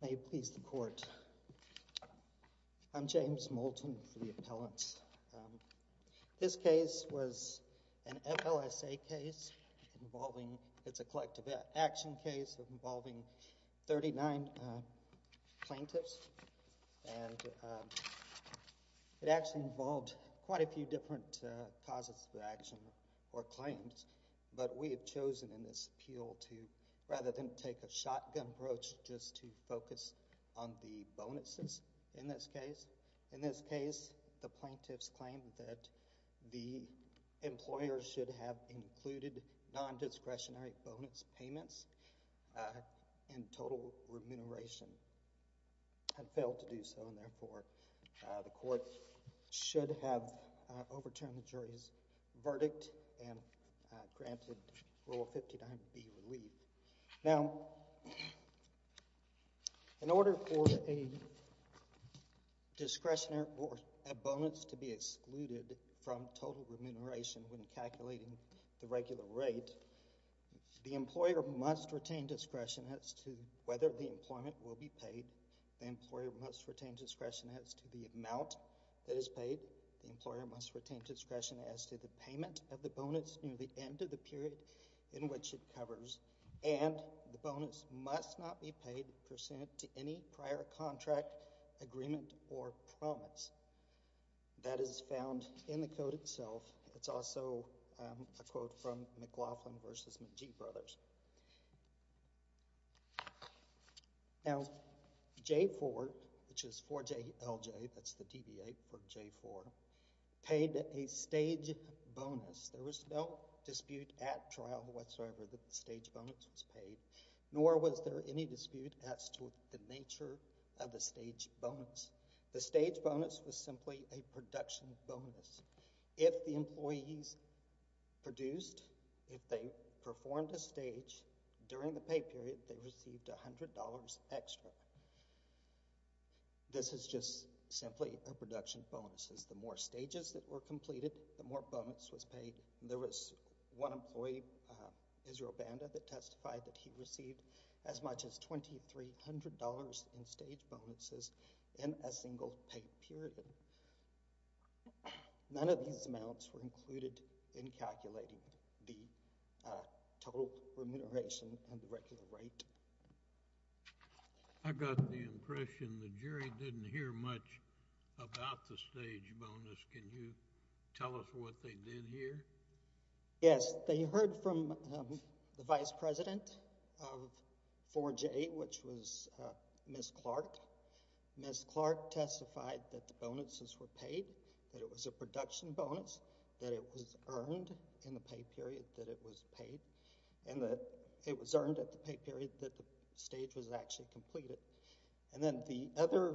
May it please the Court, I'm James Moulton for the Appellants. This case was an FLSA case involving, it's a collective action case involving 39 plaintiffs and it actually involved quite a few different causes of action or claims, but we have chosen in this appeal to, rather than take a shotgun approach, just to focus on the bonuses in this case. In this case, the plaintiffs claim that the employer should have included nondiscretionary bonus payments and total remuneration had failed to do so, and therefore the Court should have overturned the jury's verdict and granted Rule 590B relief. Now, in order for a discretionary bonus to be excluded from total remuneration when calculating the regular rate, the employer must retain discretion as to whether the employment will be paid, the employer must retain discretion as to the amount that is paid, the employer must retain discretion as to the payment of the bonus near the end of the period in which it covers, and the bonus must not be paid percent to any prior contract, agreement, or promise. That is found in the Code itself. It's also a quote from McLaughlin v. McGee Brothers. Now, J-4, which is 4J-LJ, that's the TVA for J-4, paid a stage bonus. There was no dispute at trial whatsoever that the stage bonus was paid, nor was there any dispute as to the nature of the stage bonus. The stage bonus was simply a production bonus. If the employees produced, if they performed a stage during the pay period, they received $100 extra. This is just simply a production bonus. The more stages that were completed, the more bonus was paid. There was one employee, Israel Banda, that testified that he received as much as $2,300 in stage bonuses in a single pay period. None of these amounts were included in calculating the total remuneration and the regular rate. I got the impression the jury didn't hear much about the stage bonus. Can you tell us what they did hear? Yes, they heard from the vice president of 4J, which was Ms. Clark. Ms. Clark testified that the bonuses were paid, that it was a production bonus, that it was earned in the pay period that it was paid, and that it was earned at the pay period that the stage was actually completed. And then the other,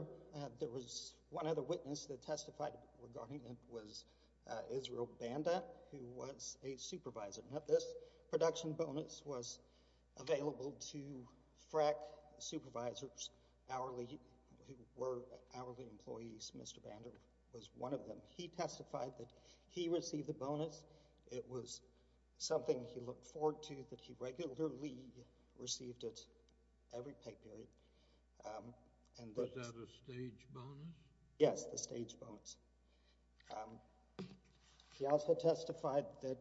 there was one other witness that testified regarding it was Israel Banda, who was a supervisor. Now, this production bonus was available to FRAC supervisors, hourly, who were hourly employees. Mr. Banda was one of them. He testified that he received the bonus. It was something he looked forward to, that he regularly received it every pay period. Was that a stage bonus? Yes, the stage bonus. He also testified that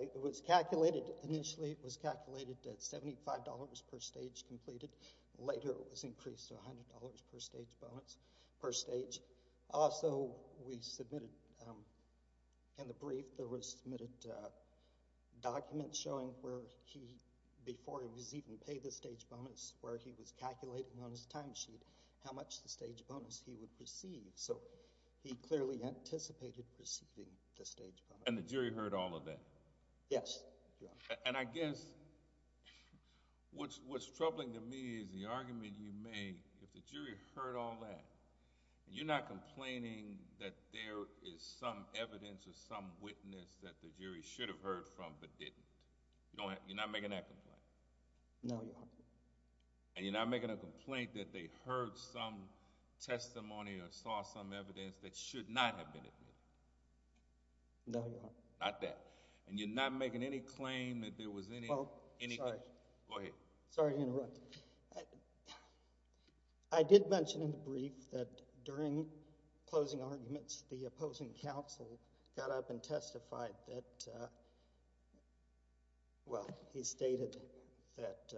it was calculated, initially it was calculated at $75 per stage completed. Later, it was increased to $100 per stage bonus, per stage. Also, we submitted, in the brief, there were submitted documents showing where he, before he was even paid the stage bonus, where he was calculating on his timesheet how much the stage bonus he would receive. So, he clearly anticipated receiving the stage bonus. And the jury heard all of that? Yes, Your Honor. And I guess, what's troubling to me is the argument you made, if the jury heard all that, and you're not complaining that there is some evidence or some witness that the jury should have heard from but didn't. You're not making that complaint? No, Your Honor. And you're not making a complaint that they heard some testimony or saw some evidence that should not have been admitted? No, Your Honor. Not that. And you're not making any claim that there was any... Well, sorry. Go ahead. Sorry to interrupt. I did mention, in the brief, that during closing arguments, the opposing counsel got up and testified that, well, he stated that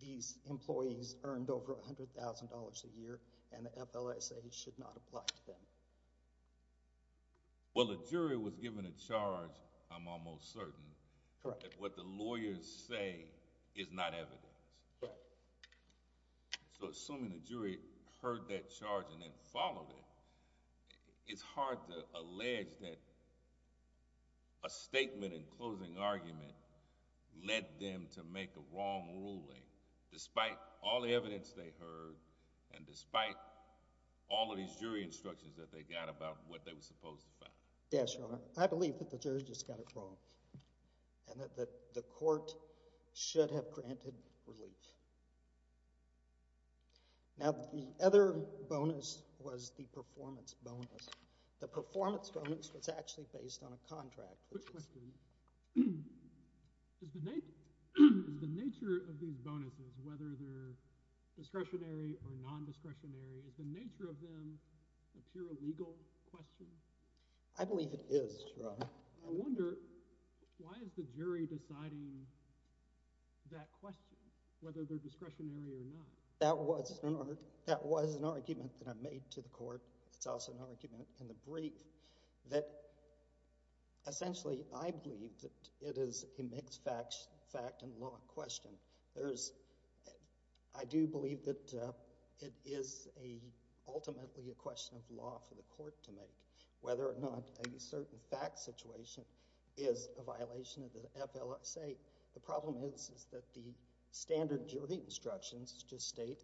these employees earned over $100,000 a year and the FLSA should not apply to them. Well, the jury was given a charge, I'm almost certain. Correct. That what the lawyers say is not evidence. Correct. So, assuming the jury heard that charge and then followed it, it's hard to allege that a statement in closing argument led them to make a wrong ruling, despite all the evidence they heard and despite all of these jury instructions that they got about what they were supposed to find. Yes, Your Honor. I believe that the jury just got it wrong and that the court should have granted relief. Now, the other bonus was the performance bonus. The performance bonus was actually based on a contract. Quick question. Is the nature of these bonuses, whether they're discretionary or non-discretionary, is the nature of them a pure legal question? I believe it is, Your Honor. I wonder, why is the jury deciding that question, whether they're discretionary or not? That was an argument that I made to the court. It's also an argument in the brief that, essentially, I believe that it is a mixed fact and law question. I do believe that it is ultimately a question of law for the court to make, whether or not a certain fact situation is a violation of the FLSA. The problem is that the standard jury instructions just state,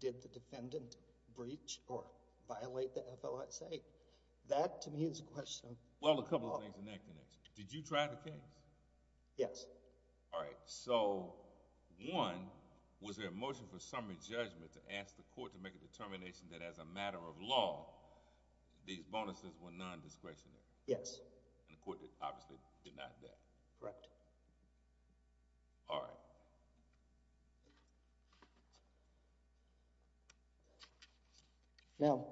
did the defendant breach or violate the FLSA? That, to me, is a question of... Well, a couple of things in that connection. Did you try the case? Yes. All right. So, one, was there a motion for summary judgment to ask the court to make a determination that as a matter of law, these bonuses were non-discretionary? Yes. And the court obviously denied that? Correct. All right. Now,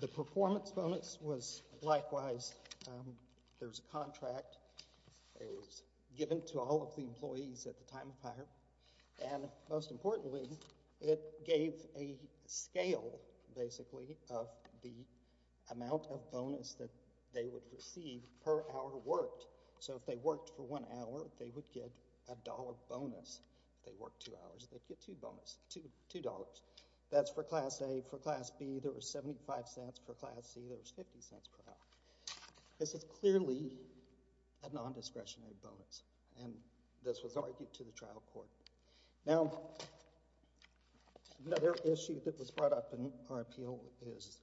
the performance bonus was likewise. There's a contract. It was given to all of the employees at the time of fire, and most importantly, it gave a scale, basically, of the amount of bonus that they would receive per hour worked. So, if they worked for one hour, they would get a dollar bonus. If they worked two hours, they'd get two dollars. That's for Class A. For Class B, there was 75 cents. For Class C, there was 50 cents per hour. This is clearly a non-discretionary bonus, and this was argued to the trial court. Now, another issue that was brought up in our appeal is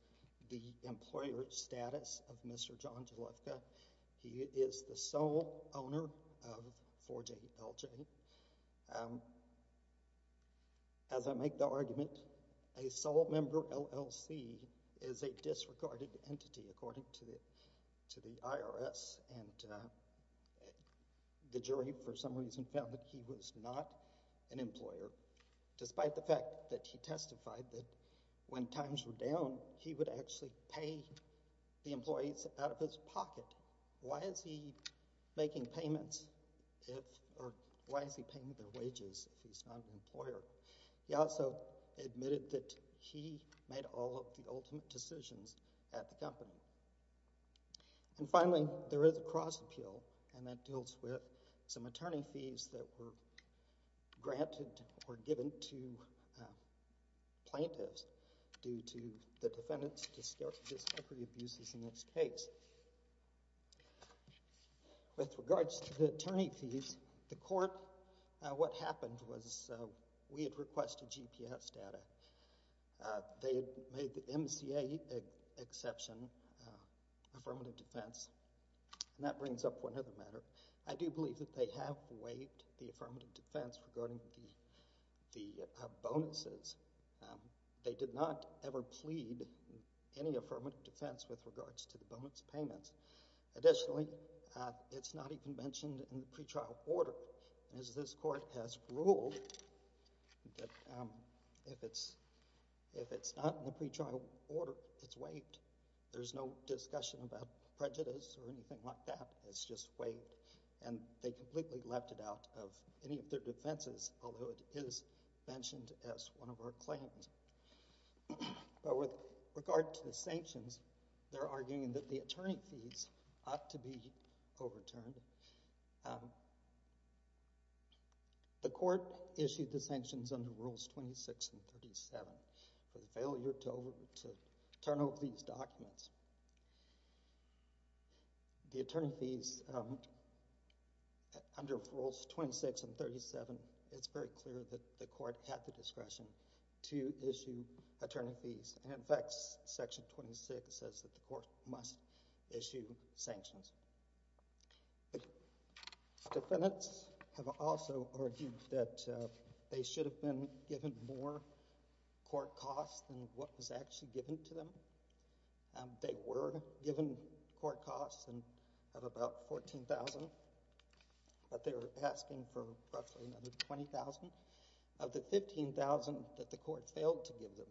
the employer status of Mr. John Jalewka. He is the sole owner of 4JLJ. As I make the argument, a sole member LLC is a disregarded entity, according to the IRS, and the jury, for some reason, found that he was not an employer, despite the fact that he testified that when times were down, he would actually pay the employees out of his pocket. Why is he making payments, or why is he paying their wages if he's not an employer? He also admitted that he made all of the ultimate decisions at the company. And finally, there is a cross appeal, and that deals with some attorney fees that were granted or given to plaintiffs due to the defendant's discrepancy abuses in this case. With regards to the attorney fees, the court, what happened was we had requested GPS data. They had made the MCA exception affirmative defense, and that brings up one other matter. I do believe that they have waived the affirmative defense regarding the bonuses. They did not ever plead any affirmative defense with regards to the bonus payments. Additionally, it's not even mentioned in the pretrial order. As this court has ruled, if it's not in the pretrial order, it's waived. There's no discussion about prejudice or anything like that. It's just waived, and they completely left it out of any of their defenses, although it is mentioned as one of our claims. With regard to the sanctions, they're arguing that the attorney fees ought to be overturned. The court issued the sanctions under Rules 26 and 37 for the failure to turn over these documents. The attorney fees, under Rules 26 and 37, it's very clear that the court had the discretion to issue attorney fees. In fact, Section 26 says that the court must issue sanctions. Defendants have also argued that they should have been given more court costs than what was actually given to them. They were given court costs of about $14,000, but they were asking for roughly another $20,000. Of the $15,000 that the court failed to give them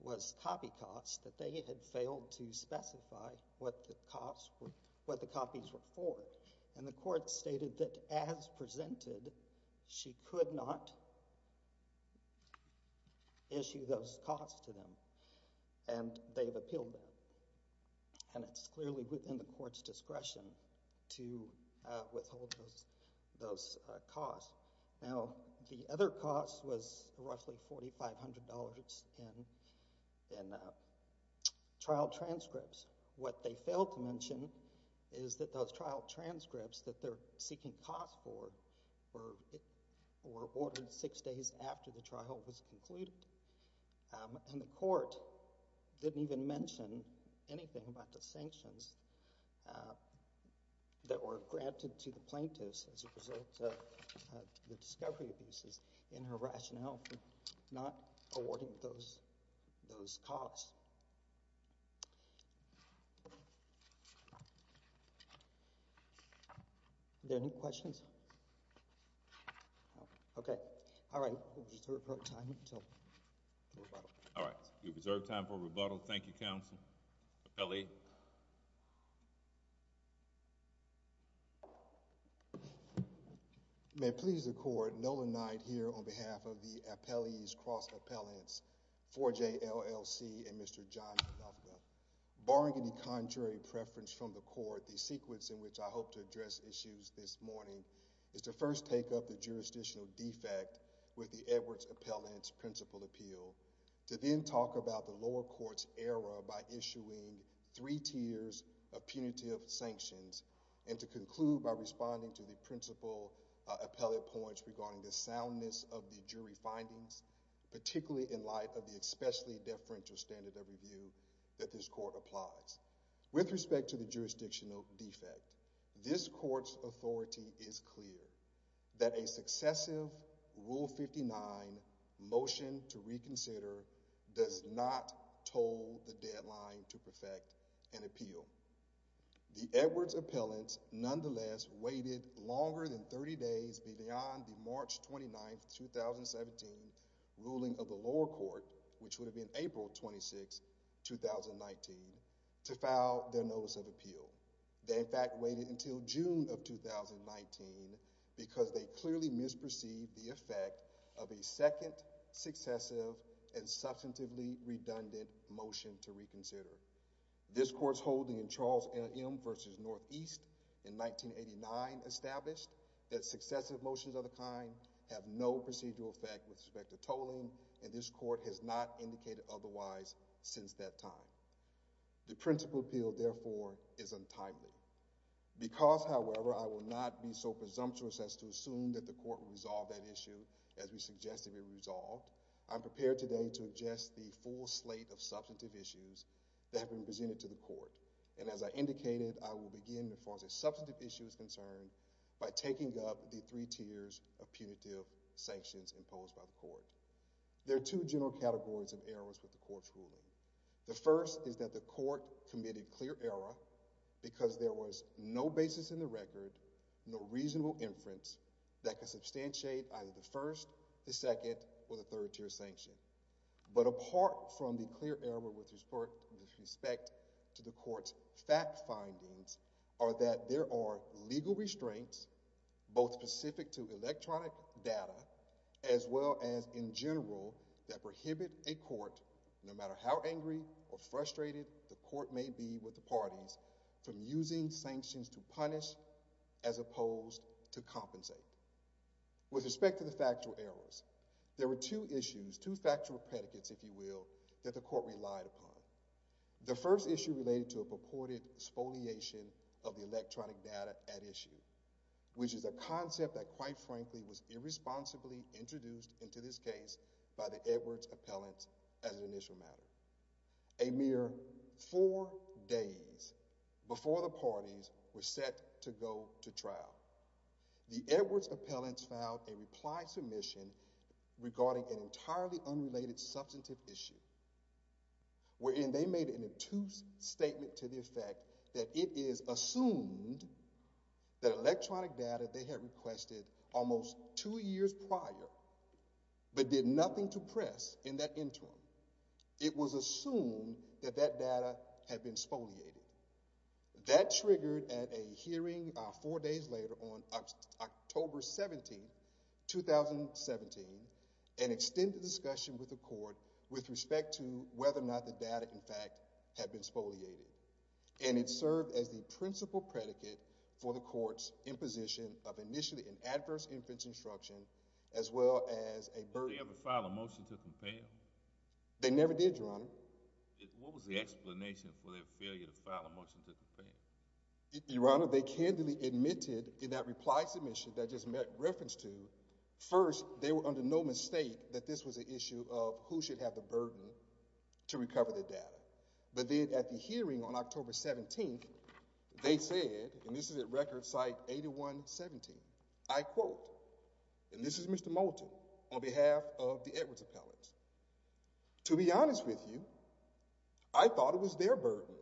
was copy costs that they had failed to specify what the copies were for. The court stated that, as presented, she could not issue those costs to them. They've appealed that, and it's clearly within the court's discretion to withhold those costs. Now, the other cost was roughly $4,500 in trial transcripts. What they failed to mention is that those trial transcripts that they're seeking costs for were ordered six days after the trial was concluded. The court didn't even mention anything about the sanctions that were granted to the plaintiffs as a result of the discovery abuses in her rationale for not awarding those costs. Are there any questions? No? Okay. All right. We'll reserve time for rebuttal. All right. We'll reserve time for rebuttal. Thank you, Counsel. Appellee? May it please the Court, Nolan Knight here on behalf of the Appellees' Cross Appellants, 4J LLC, and Mr. John Dufka. Barring any contrary preference from the Court, the sequence in which I hope to address issues this morning is to first take up the jurisdictional defect with the Edwards Appellant's principal appeal, to then talk about the lower court's error by issuing three tiers of punitive sanctions, and to conclude by responding to the principal appellate points regarding the soundness of the jury findings, particularly in light of the especially deferential standard of review that this court applies. With respect to the jurisdictional defect, this court's authority is clear that a successive Rule 59 motion to reconsider does not toll the deadline to perfect an appeal. The Edwards Appellant nonetheless waited longer than 30 days beyond the March 29, 2017, ruling of the lower court, which would have been April 26, 2019, to file their notice of appeal. They, in fact, waited until June of 2019 because they clearly misperceived the effect of a second, successive, and substantively redundant motion to reconsider. This court's holding in Charles M. v. Northeast in 1989 established that successive motions of the kind have no procedural effect with respect to tolling, and this court has not indicated otherwise since that time. The principal appeal, therefore, is untimely. Because, however, I will not be so presumptuous as to assume that the court will resolve that issue as we suggest it be resolved, I am prepared today to address the full slate of substantive issues that have been presented to the court. And as I indicated, I will begin, as far as a substantive issue is concerned, by taking up the three tiers of punitive sanctions imposed by the court. There are two general categories of errors with the court's ruling. The first is that the court committed clear error because there was no basis in the record, no reasonable inference that could substantiate either the first, the second, or the third tier sanction. But apart from the clear error with respect to the court's fact findings are that there are legal restraints, both specific to electronic data, as well as, in general, that prohibit a court, no matter how angry or frustrated the court may be with the parties, from using sanctions to punish as opposed to compensate. With respect to the factual errors, there were two issues, two factual predicates, if you will, that the court relied upon. The first issue related to a purported spoliation of the electronic data at issue, which is a concept that, quite frankly, was irresponsibly introduced into this case by the Edwards Appellants as an initial matter. A mere four days before the parties were set to go to trial, the Edwards Appellants filed a reply submission regarding an entirely unrelated substantive issue, wherein they made an obtuse statement to the effect that it is assumed that electronic data they had requested almost two years prior, but did nothing to press in that interim. It was assumed that that data had been spoliated. That triggered at a hearing four days later, on October 17, 2017, an extended discussion with the court with respect to whether or not the data, in fact, had been spoliated. And it served as the principal predicate for the court's imposition of initially an adverse inference instruction, as well as a burden. Did they ever file a motion to compel? They never did, Your Honor. What was the explanation for their failure to file a motion to compel? Your Honor, they candidly admitted in that reply submission that I just made reference to, first, they were under no mistake that this was an issue of who should have the burden to recover the data. But then, at the hearing on October 17, they said, and this is at Record Site 8117, I quote, and this is Mr. Moulton, on behalf of the Edwards Appellants, to be honest with you, I thought it was their burden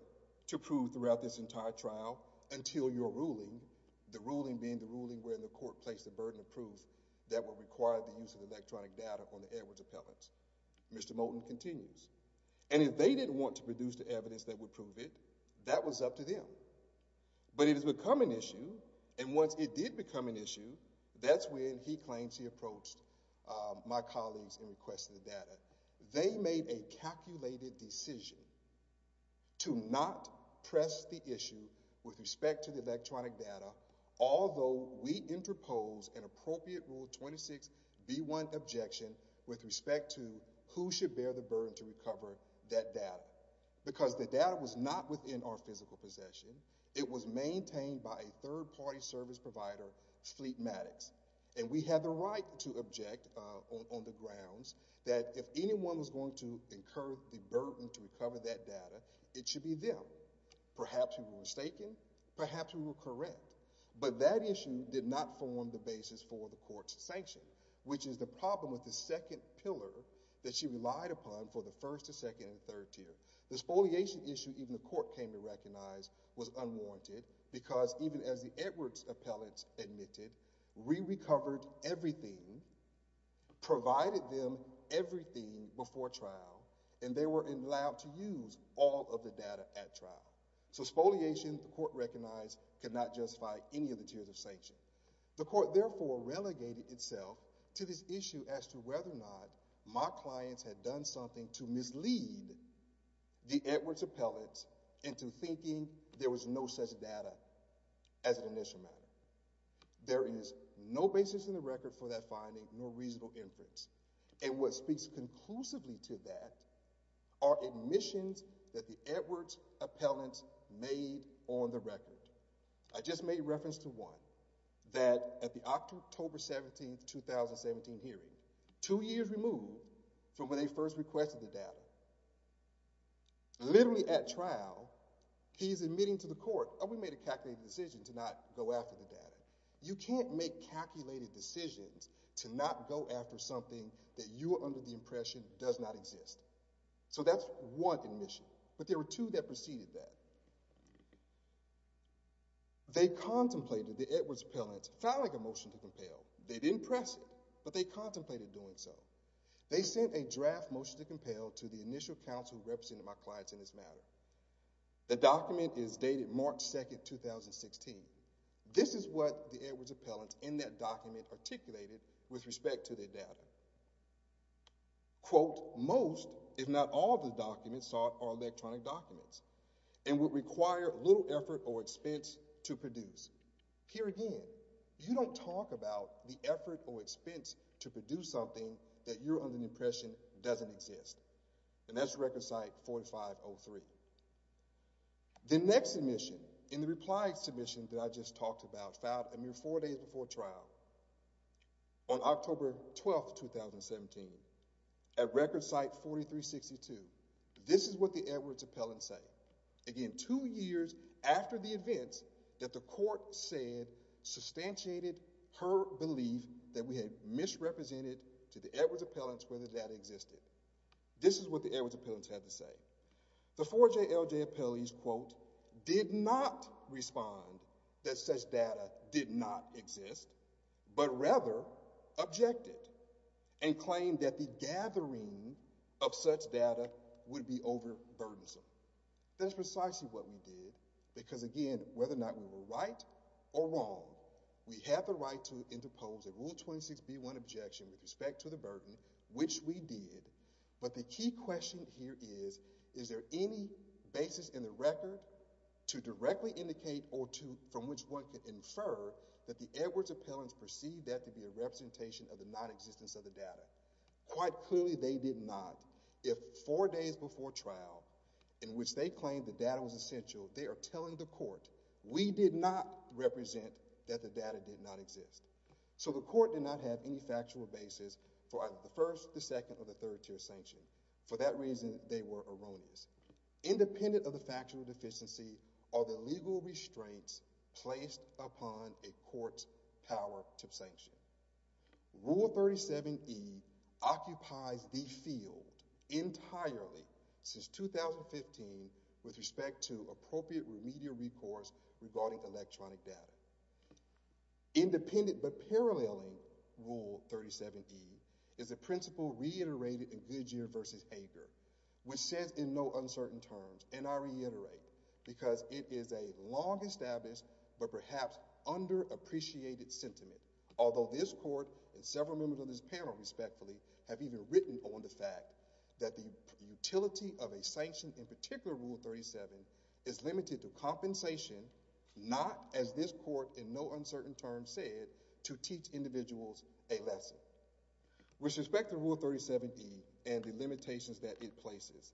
to prove throughout this entire trial until your ruling, the ruling being the ruling where the court placed the burden of proof that would require the use of electronic data on the Edwards Appellants. Mr. Moulton continues, and if they didn't want to produce the evidence that would prove it, that was up to them. But it has become an issue, and once it did become an issue, that's when he claims he approached my colleagues and requested the data. They made a calculated decision to not press the issue with respect to the electronic data, although we interpose an appropriate Rule 26b1 objection with respect to who should bear the burden to recover that data. Because the data was not within our physical possession. It was maintained by a third-party service provider, Fleetmatics, and we had the right to object on the grounds that if anyone was going to incur the burden to recover that data, it should be them. Perhaps we were mistaken. Perhaps we were correct. But that issue did not form the basis for the court's sanction, which is the problem with the second pillar that you relied upon for the first, second, and third tier. The spoliation issue even the court came to recognize was unwarranted because even as the Edwards appellants admitted, we recovered everything, provided them everything before trial, and they were allowed to use all of the data at trial. So spoliation, the court recognized, could not justify any of the tiers of sanction. The court therefore relegated itself to this issue as to whether or not my clients had done something to mislead the Edwards appellants into thinking there was no such data as an initial matter. There is no basis in the record for that finding nor reasonable inference. And what speaks conclusively to that are admissions that the Edwards appellants made on the record. I just made reference to one that at the October 17, 2017 hearing, two years removed from when they first requested the data, literally at trial, he's admitting to the court, oh, we made a calculated decision to not go after the data. You can't make calculated decisions to not go after something that you are under the impression does not exist. So that's one admission. But there were two that preceded that. They contemplated the Edwards appellants filing a motion to compel. They didn't press it, but they contemplated doing so. They sent a draft motion to compel to the initial counsel representing my clients in this matter. The document is dated March 2, 2016. This is what the Edwards appellants in that document articulated with respect to their data. Quote, most, if not all, of the documents are electronic documents and would require little effort or expense to produce. Here again, you don't talk about the effort or expense to produce something that you're under the impression doesn't exist. And that's record site 4503. The next admission in the reply submission that I just talked about filed a mere four days before trial on October 12, 2017 at record site 4362. This is what the Edwards appellants say. Again, two years after the events that the court said substantiated her belief that we had misrepresented to the Edwards appellants where the data existed. This is what the Edwards appellants had to say. The 4JLJ appellees, quote, did not respond that such data did not exist, but rather objected and claimed that the gathering of such data would be overburdensome. That's precisely what we did because, again, whether or not we were right or wrong, we have the right to interpose a Rule 26B1 objection with respect to the burden, which we did, but the key question here is, is there any basis in the record to directly indicate or from which one can infer that the Edwards appellants perceived that to be a representation of the nonexistence of the data? Quite clearly, they did not. If four days before trial, in which they claimed the data was essential, they are telling the court we did not represent that the data did not exist. So the court did not have any factual basis for either the first, the second, or the third tier sanction. For that reason, they were erroneous. Independent of the factual deficiency are the legal restraints placed upon a court's power to sanction. Rule 37E occupies the field entirely since 2015 with respect to appropriate remedial recourse regarding electronic data. Independent but paralleling Rule 37E is a principle reiterated in Goodyear v. Hager, which says in no uncertain terms, and I reiterate because it is a long-established but perhaps underappreciated sentiment, although this court and several members of this panel, respectfully, have even written on the fact that the utility of a sanction, in particular Rule 37, is limited to compensation, not, as this court in no uncertain terms said, to teach individuals a lesson. With respect to Rule 37E and the limitations that it places,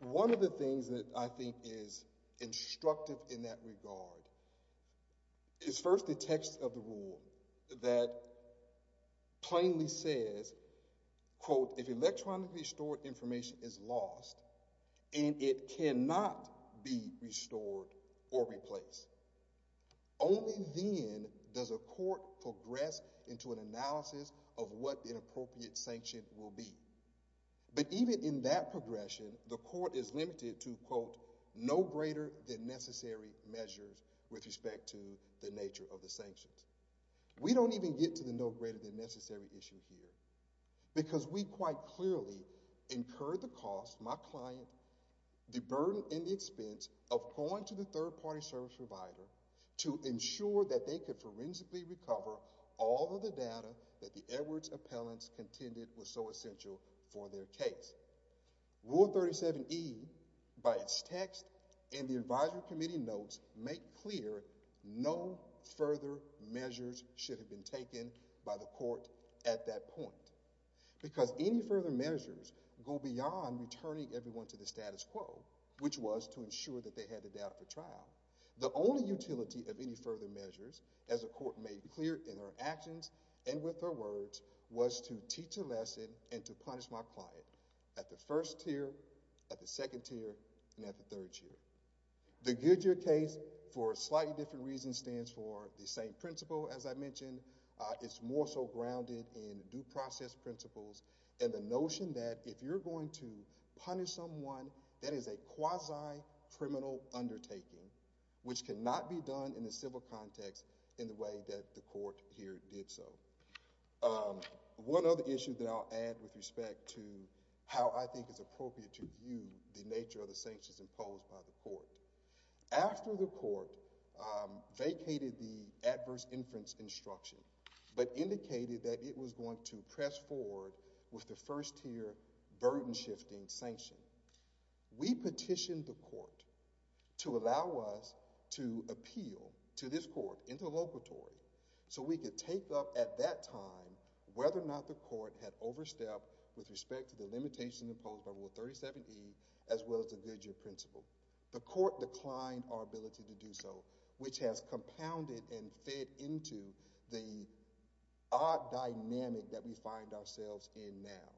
one of the things that I think is instructive in that regard is first the text of the rule that plainly says, quote, if electronically stored information is lost and it cannot be restored or replaced, only then does a court progress into an analysis of what an appropriate sanction will be. But even in that progression, the court is limited to, quote, no greater than necessary measures with respect to the nature of the sanctions. We don't even get to the no greater than necessary issue here because we quite clearly incurred the cost, my client, the burden and the expense of going to the third-party service provider to ensure that they could forensically recover all of the data that the Edwards appellants contended was so essential for their case. Rule 37E, by its text and the advisory committee notes make clear no further measures should have been taken by the court at that point because any further measures go beyond returning everyone to the status quo, which was to ensure that they had the data for trial. The only utility of any further measures, as the court made clear in her actions and with her words, was to teach a lesson and to punish my client at the first tier, at the second tier, and at the third tier. The Goodyear case for a slightly different reason stands for the same principle as I mentioned. It's more so grounded in due process principles and the notion that if you're going to punish someone, that is a quasi-criminal undertaking, which cannot be done in a civil context in the way that the court here did so. One other issue that I'll add with respect to how I think it's appropriate to view the nature of the sanctions imposed by the court. After the court vacated the adverse inference instruction, but indicated that it was going to press forward with the first tier burden-shifting sanction, we petitioned the court to allow us to appeal to this court interlocutory so we could take up at that time whether or not the court had overstepped with respect to the limitations imposed by Rule 37E as well as the Goodyear principle. The court declined our ability to do so, which has compounded and fed into the odd dynamic that we find ourselves in now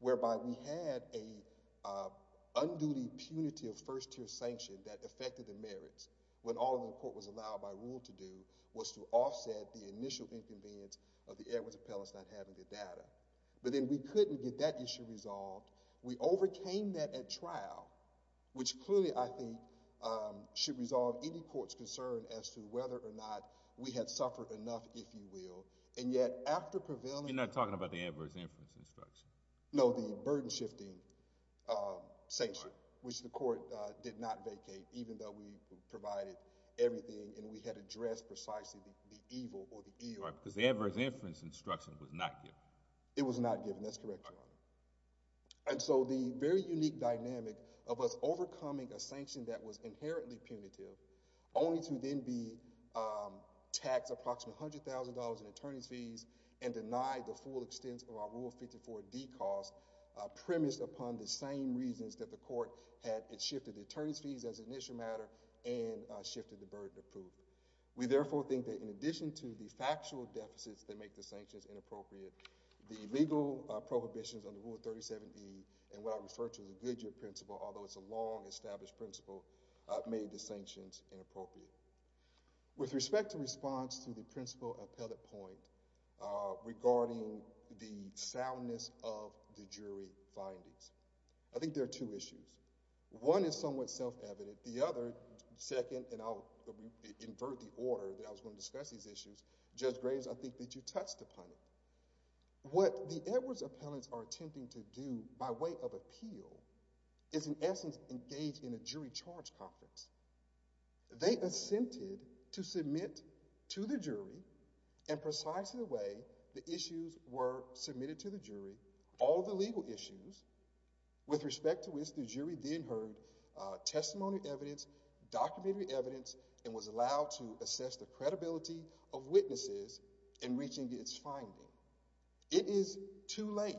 whereby we had an unduty punitive first tier sanction that affected the merits when all the court was allowed by Rule to do was to offset the initial inconvenience of the Edwards appellants not having the data. But then we couldn't get that issue resolved. We overcame that at trial, which clearly, I think, should resolve any court's concern as to whether or not we had suffered enough, if you will, and yet after prevailing... You're not talking about the adverse inference instruction? No, the burden-shifting sanction, which the court did not vacate even though we provided everything and we had addressed precisely the evil or the ill. Because the adverse inference instruction was not given. It was not given, that's correct, Your Honor. And so the very unique dynamic of us overcoming a sanction that was inherently punitive only to then be taxed approximately $100,000 in attorney's fees and denied the full extent of our Rule 54D cost premised upon the same reasons that the court had shifted the attorney's fees as an issue matter and shifted the burden of proof. We therefore think that in addition to the factual deficits that make the sanctions inappropriate, the legal prohibitions under Rule 37E and what I refer to as the Goodyear Principle, although it's a long established principle, made the sanctions inappropriate. With respect to response to the principle appellate point regarding the soundness of the jury findings, I think there are two issues. One is somewhat self-evident. The other, second, and I'll invert the order that I was going to discuss these issues, Judge Graves, I think that you touched upon it. What the Edwards appellants are attempting to do by way of appeal is in essence They assented to submit to the jury and precisely the way the issues were submitted to the jury, all the legal issues with respect to which the jury then heard testimony evidence, documentary evidence and was allowed to assess the credibility of witnesses in reaching its findings. It is too late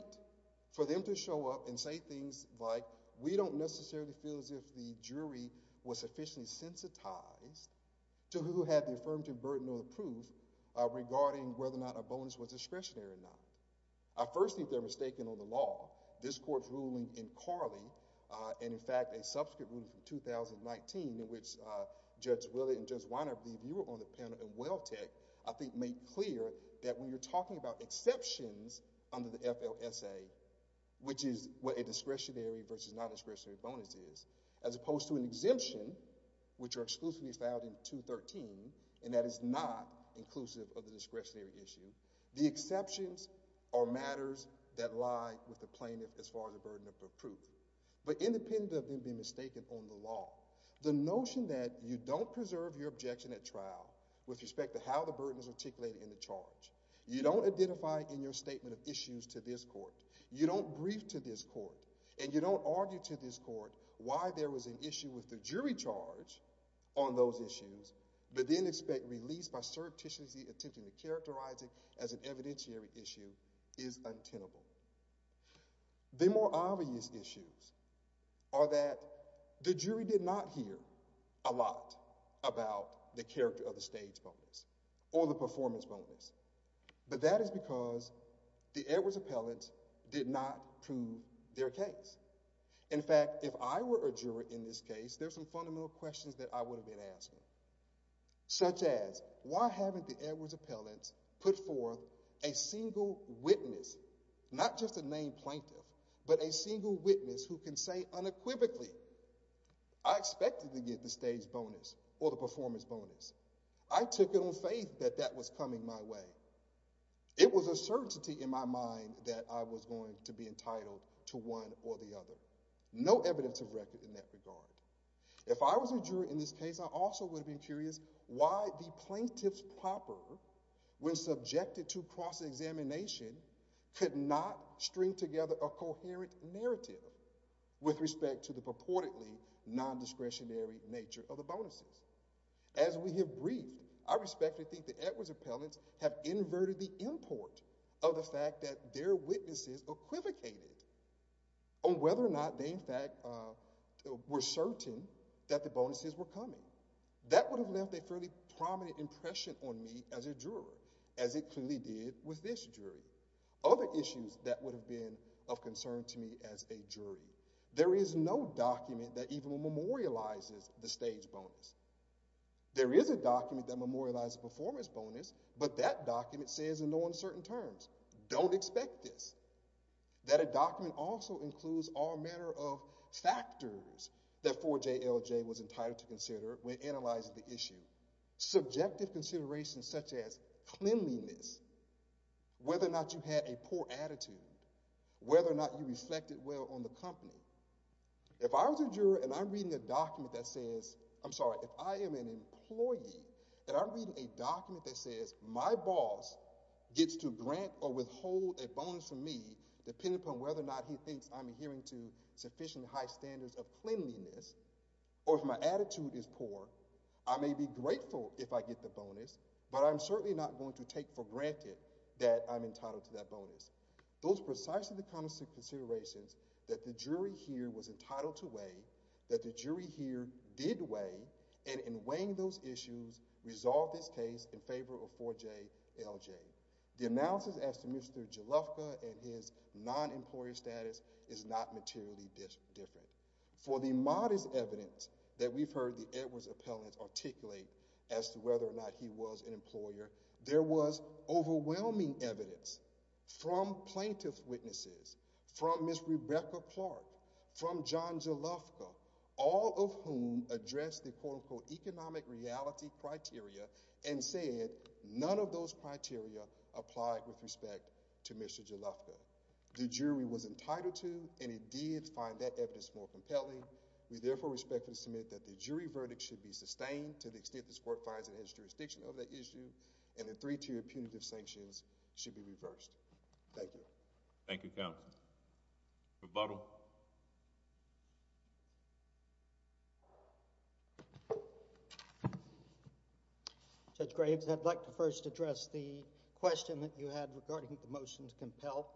for them to show up and say things like, we don't necessarily feel as if the jury was sufficiently sensitized to who had the affirmative burden or the proof regarding whether or not a bonus was discretionary or not. I first think they're mistaken on the law. This court's ruling in Carley, and in fact a subsequent ruling from 2019 in which Judge Willey and Judge Weiner, I believe you were on the panel in Welltech, I think made clear that when you're talking about exceptions under the FLSA, which is what a discretionary versus non-discretionary bonus is as opposed to an exemption, which are exclusively found in 213, and that is not inclusive of the discretionary issue, the exceptions are matters that lie with the plaintiff as far as the burden of proof. But independent of them being mistaken on the law, the notion that you don't preserve your objection at trial with respect to how the burden is articulated in the charge, you don't identify in your statement of issues to this court, you don't brief to this court why there was an issue with the jury charge on those issues, but then expect release by surreptitiously attempting to characterize it as an evidentiary issue is untenable. The more obvious issues are that the jury did not hear a lot about the character of the stage bonus or the performance bonus, but that is because the Edwards appellate did not prove their case. In fact, if I were a juror in this case, there's some fundamental questions that I would have been asking, such as why haven't the Edwards appellate put forth a single witness, not just a named plaintiff, but a single witness who can say unequivocally I expected to get the stage bonus or the performance bonus. I took it on faith that that was coming my way. It was a certainty in my mind that I was going to be entitled to one or the other. No evidence of record in that regard. If I was a juror in this case, I also would have been curious why the plaintiff's proper when subjected to cross-examination could not string together a coherent narrative with respect to the purportedly non-discretionary nature of the bonuses. As we have briefed, I respectfully think the Edwards appellates have inverted the import of the fact that their witnesses equivocated on whether or not they, in fact, were certain that the bonuses were coming. That would have left a fairly prominent impression on me as a juror, as it clearly did with this jury. Other issues that would have been of concern to me as a jury, there is no document that even memorializes the stage bonus. There is a document that memorializes the performance bonus, but that document says in no uncertain terms don't expect this. That a document also includes all manner of factors that 4JLJ was entitled to consider when analyzing the issue. Subjective considerations such as cleanliness, whether or not you had a poor attitude, whether or not you reflected well on the company. If I was a juror and I'm reading a document that says my boss gets to grant or withhold a bonus from me, depending upon whether or not he thinks I'm adhering to sufficient high standards of cleanliness, or if my attitude is poor, I may be grateful if I get the bonus, but I'm certainly not going to take for granted that I'm entitled to that bonus. Those are precisely the kinds of considerations that the jury here was entitled to weigh, that the jury here did weigh, and in weighing those issues, resolved this case in favor of 4JLJ. The analysis as to Mr. Jalufka and his non-employer status is not materially different. For the modest evidence that we've heard the Edwards appellants articulate as to whether or not he was an employer, there was overwhelming evidence from plaintiff witnesses, from Ms. Rebecca Clark, from John Jalufka, all of whom addressed the quote-unquote economic reality criteria and said none of those criteria applied with respect to Mr. Jalufka. The jury was entitled to, and it did find that evidence more compelling. We therefore respectfully submit that the jury verdict should be sustained to the extent this court finds it in its jurisdiction of that issue, and the three-tier punitive sanctions should be reversed. Thank you. Thank you, counsel. Rebuttal. Judge Graves, I'd like to first address the question that you had regarding the motion to compel.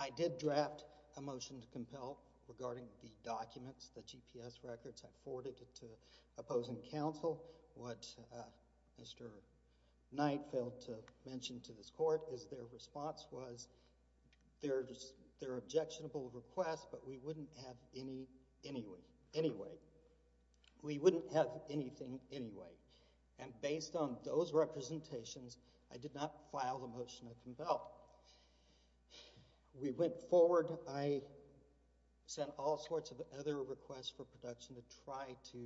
I did draft a motion to compel regarding the documents, the GPS records, I forwarded it to opposing counsel. What Mr. Knight failed to mention to this court is their response was there are objectionable requests but we wouldn't have any anyway. We wouldn't have anything anyway. And based on those representations, I did not file the motion to compel. We went forward, I sent all sorts of other requests for production to try to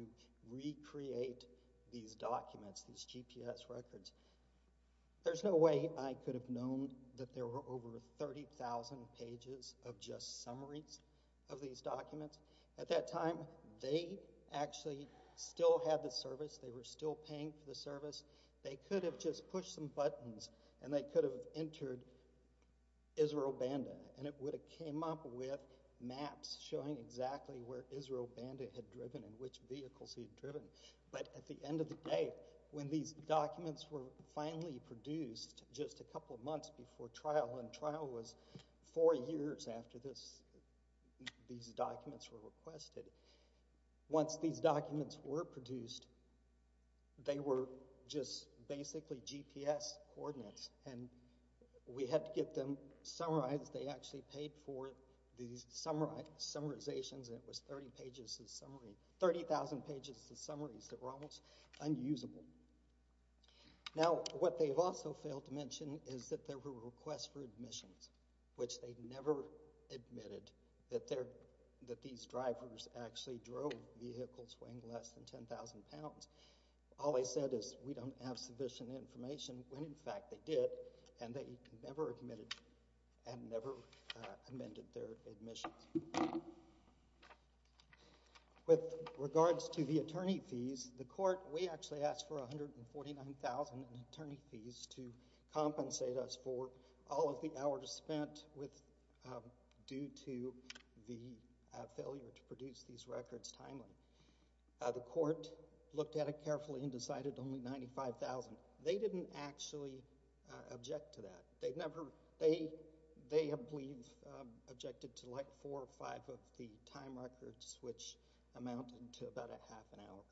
recreate these documents, these GPS records. There's no way I could have known that there were over 30,000 pages of just summaries of these documents. At that time, they actually still had the service. They were still paying for the service. They could have just pushed some buttons and they could have entered Israel Banda, and it would have came up with which vehicles he had driven. But at the end of the day, when these documents were finally produced just a couple of months before trial, and trial was four years after these documents were requested, once these documents were produced, they were just basically GPS coordinates. And we had to get them summarized. They actually paid for these summarizations, and it was 30,000 pages of summaries that were almost unusable. Now, what they've also failed to mention is that there were requests for admissions, which they never admitted that these drivers actually drove vehicles weighing less than 10,000 pounds. All they said is, we don't have sufficient information, when in fact they did, and they never admitted and never amended their admissions. With regards to the attorney fees, the court, we actually asked for 149,000 attorney fees to compensate us for all of the hours spent due to the failure to produce these records timely. The court looked at it carefully and decided only 95,000. They didn't actually object to that. They have, I believe, objected to like four or five of the time records, which amounted to about a half an hour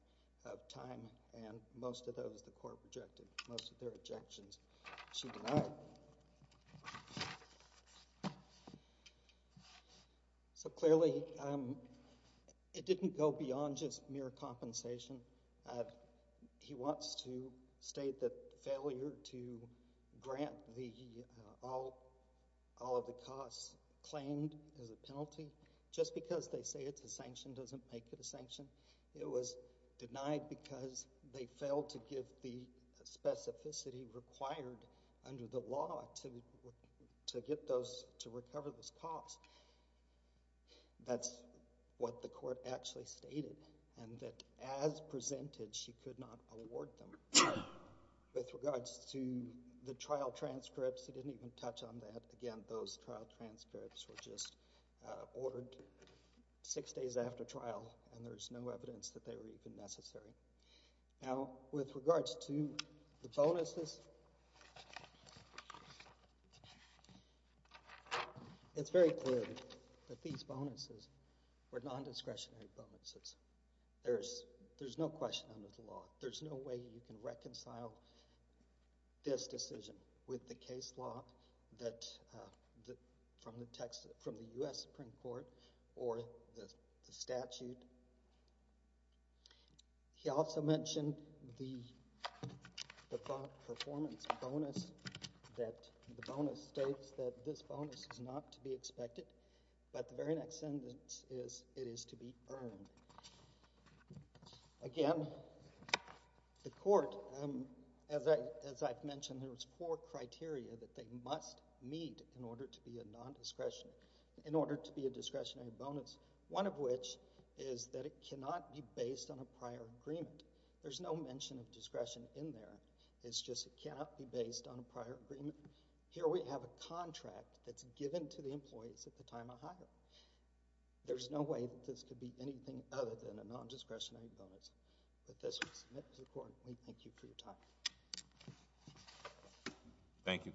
of time, and most of those the court rejected. Most of their objections, she denied. So clearly, it didn't go beyond just mere compensation. He wants to state that failure to all of the costs claimed as a penalty, just because they say it's a sanction doesn't make it a sanction. It was denied because they failed to give the specificity required under the law to get those, to recover those costs. That's what the court actually stated, and that as presented, she could not award them. With regards to the trial transcripts, he didn't even touch on that. Again, those trial transcripts were just ordered six days after trial, and there's no evidence that they were even necessary. Now, with regards to the bonuses, it's very clear that these bonuses were non-discretionary bonuses. There's no question under the law. There's no way you can reconcile this decision with the case law from the U.S. Supreme Court or the statute. He also mentioned the performance bonus that the bonus states that this bonus is not to be expected, but the very next sentence is it is to be earned. Again, the court, as I've mentioned, there's four criteria that they must meet in order to be a non-discretionary, in order to be a discretionary bonus, one of which is that it cannot be based on a prior agreement. There's no mention of discretion in there. It's just it cannot be based on a prior agreement. Here we have a contract that's given to the employees at the time of hire. There's no way that this could be anything other than a non-discretionary bonus that this would submit to the court. We thank you for your time. Thank you,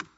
counsel.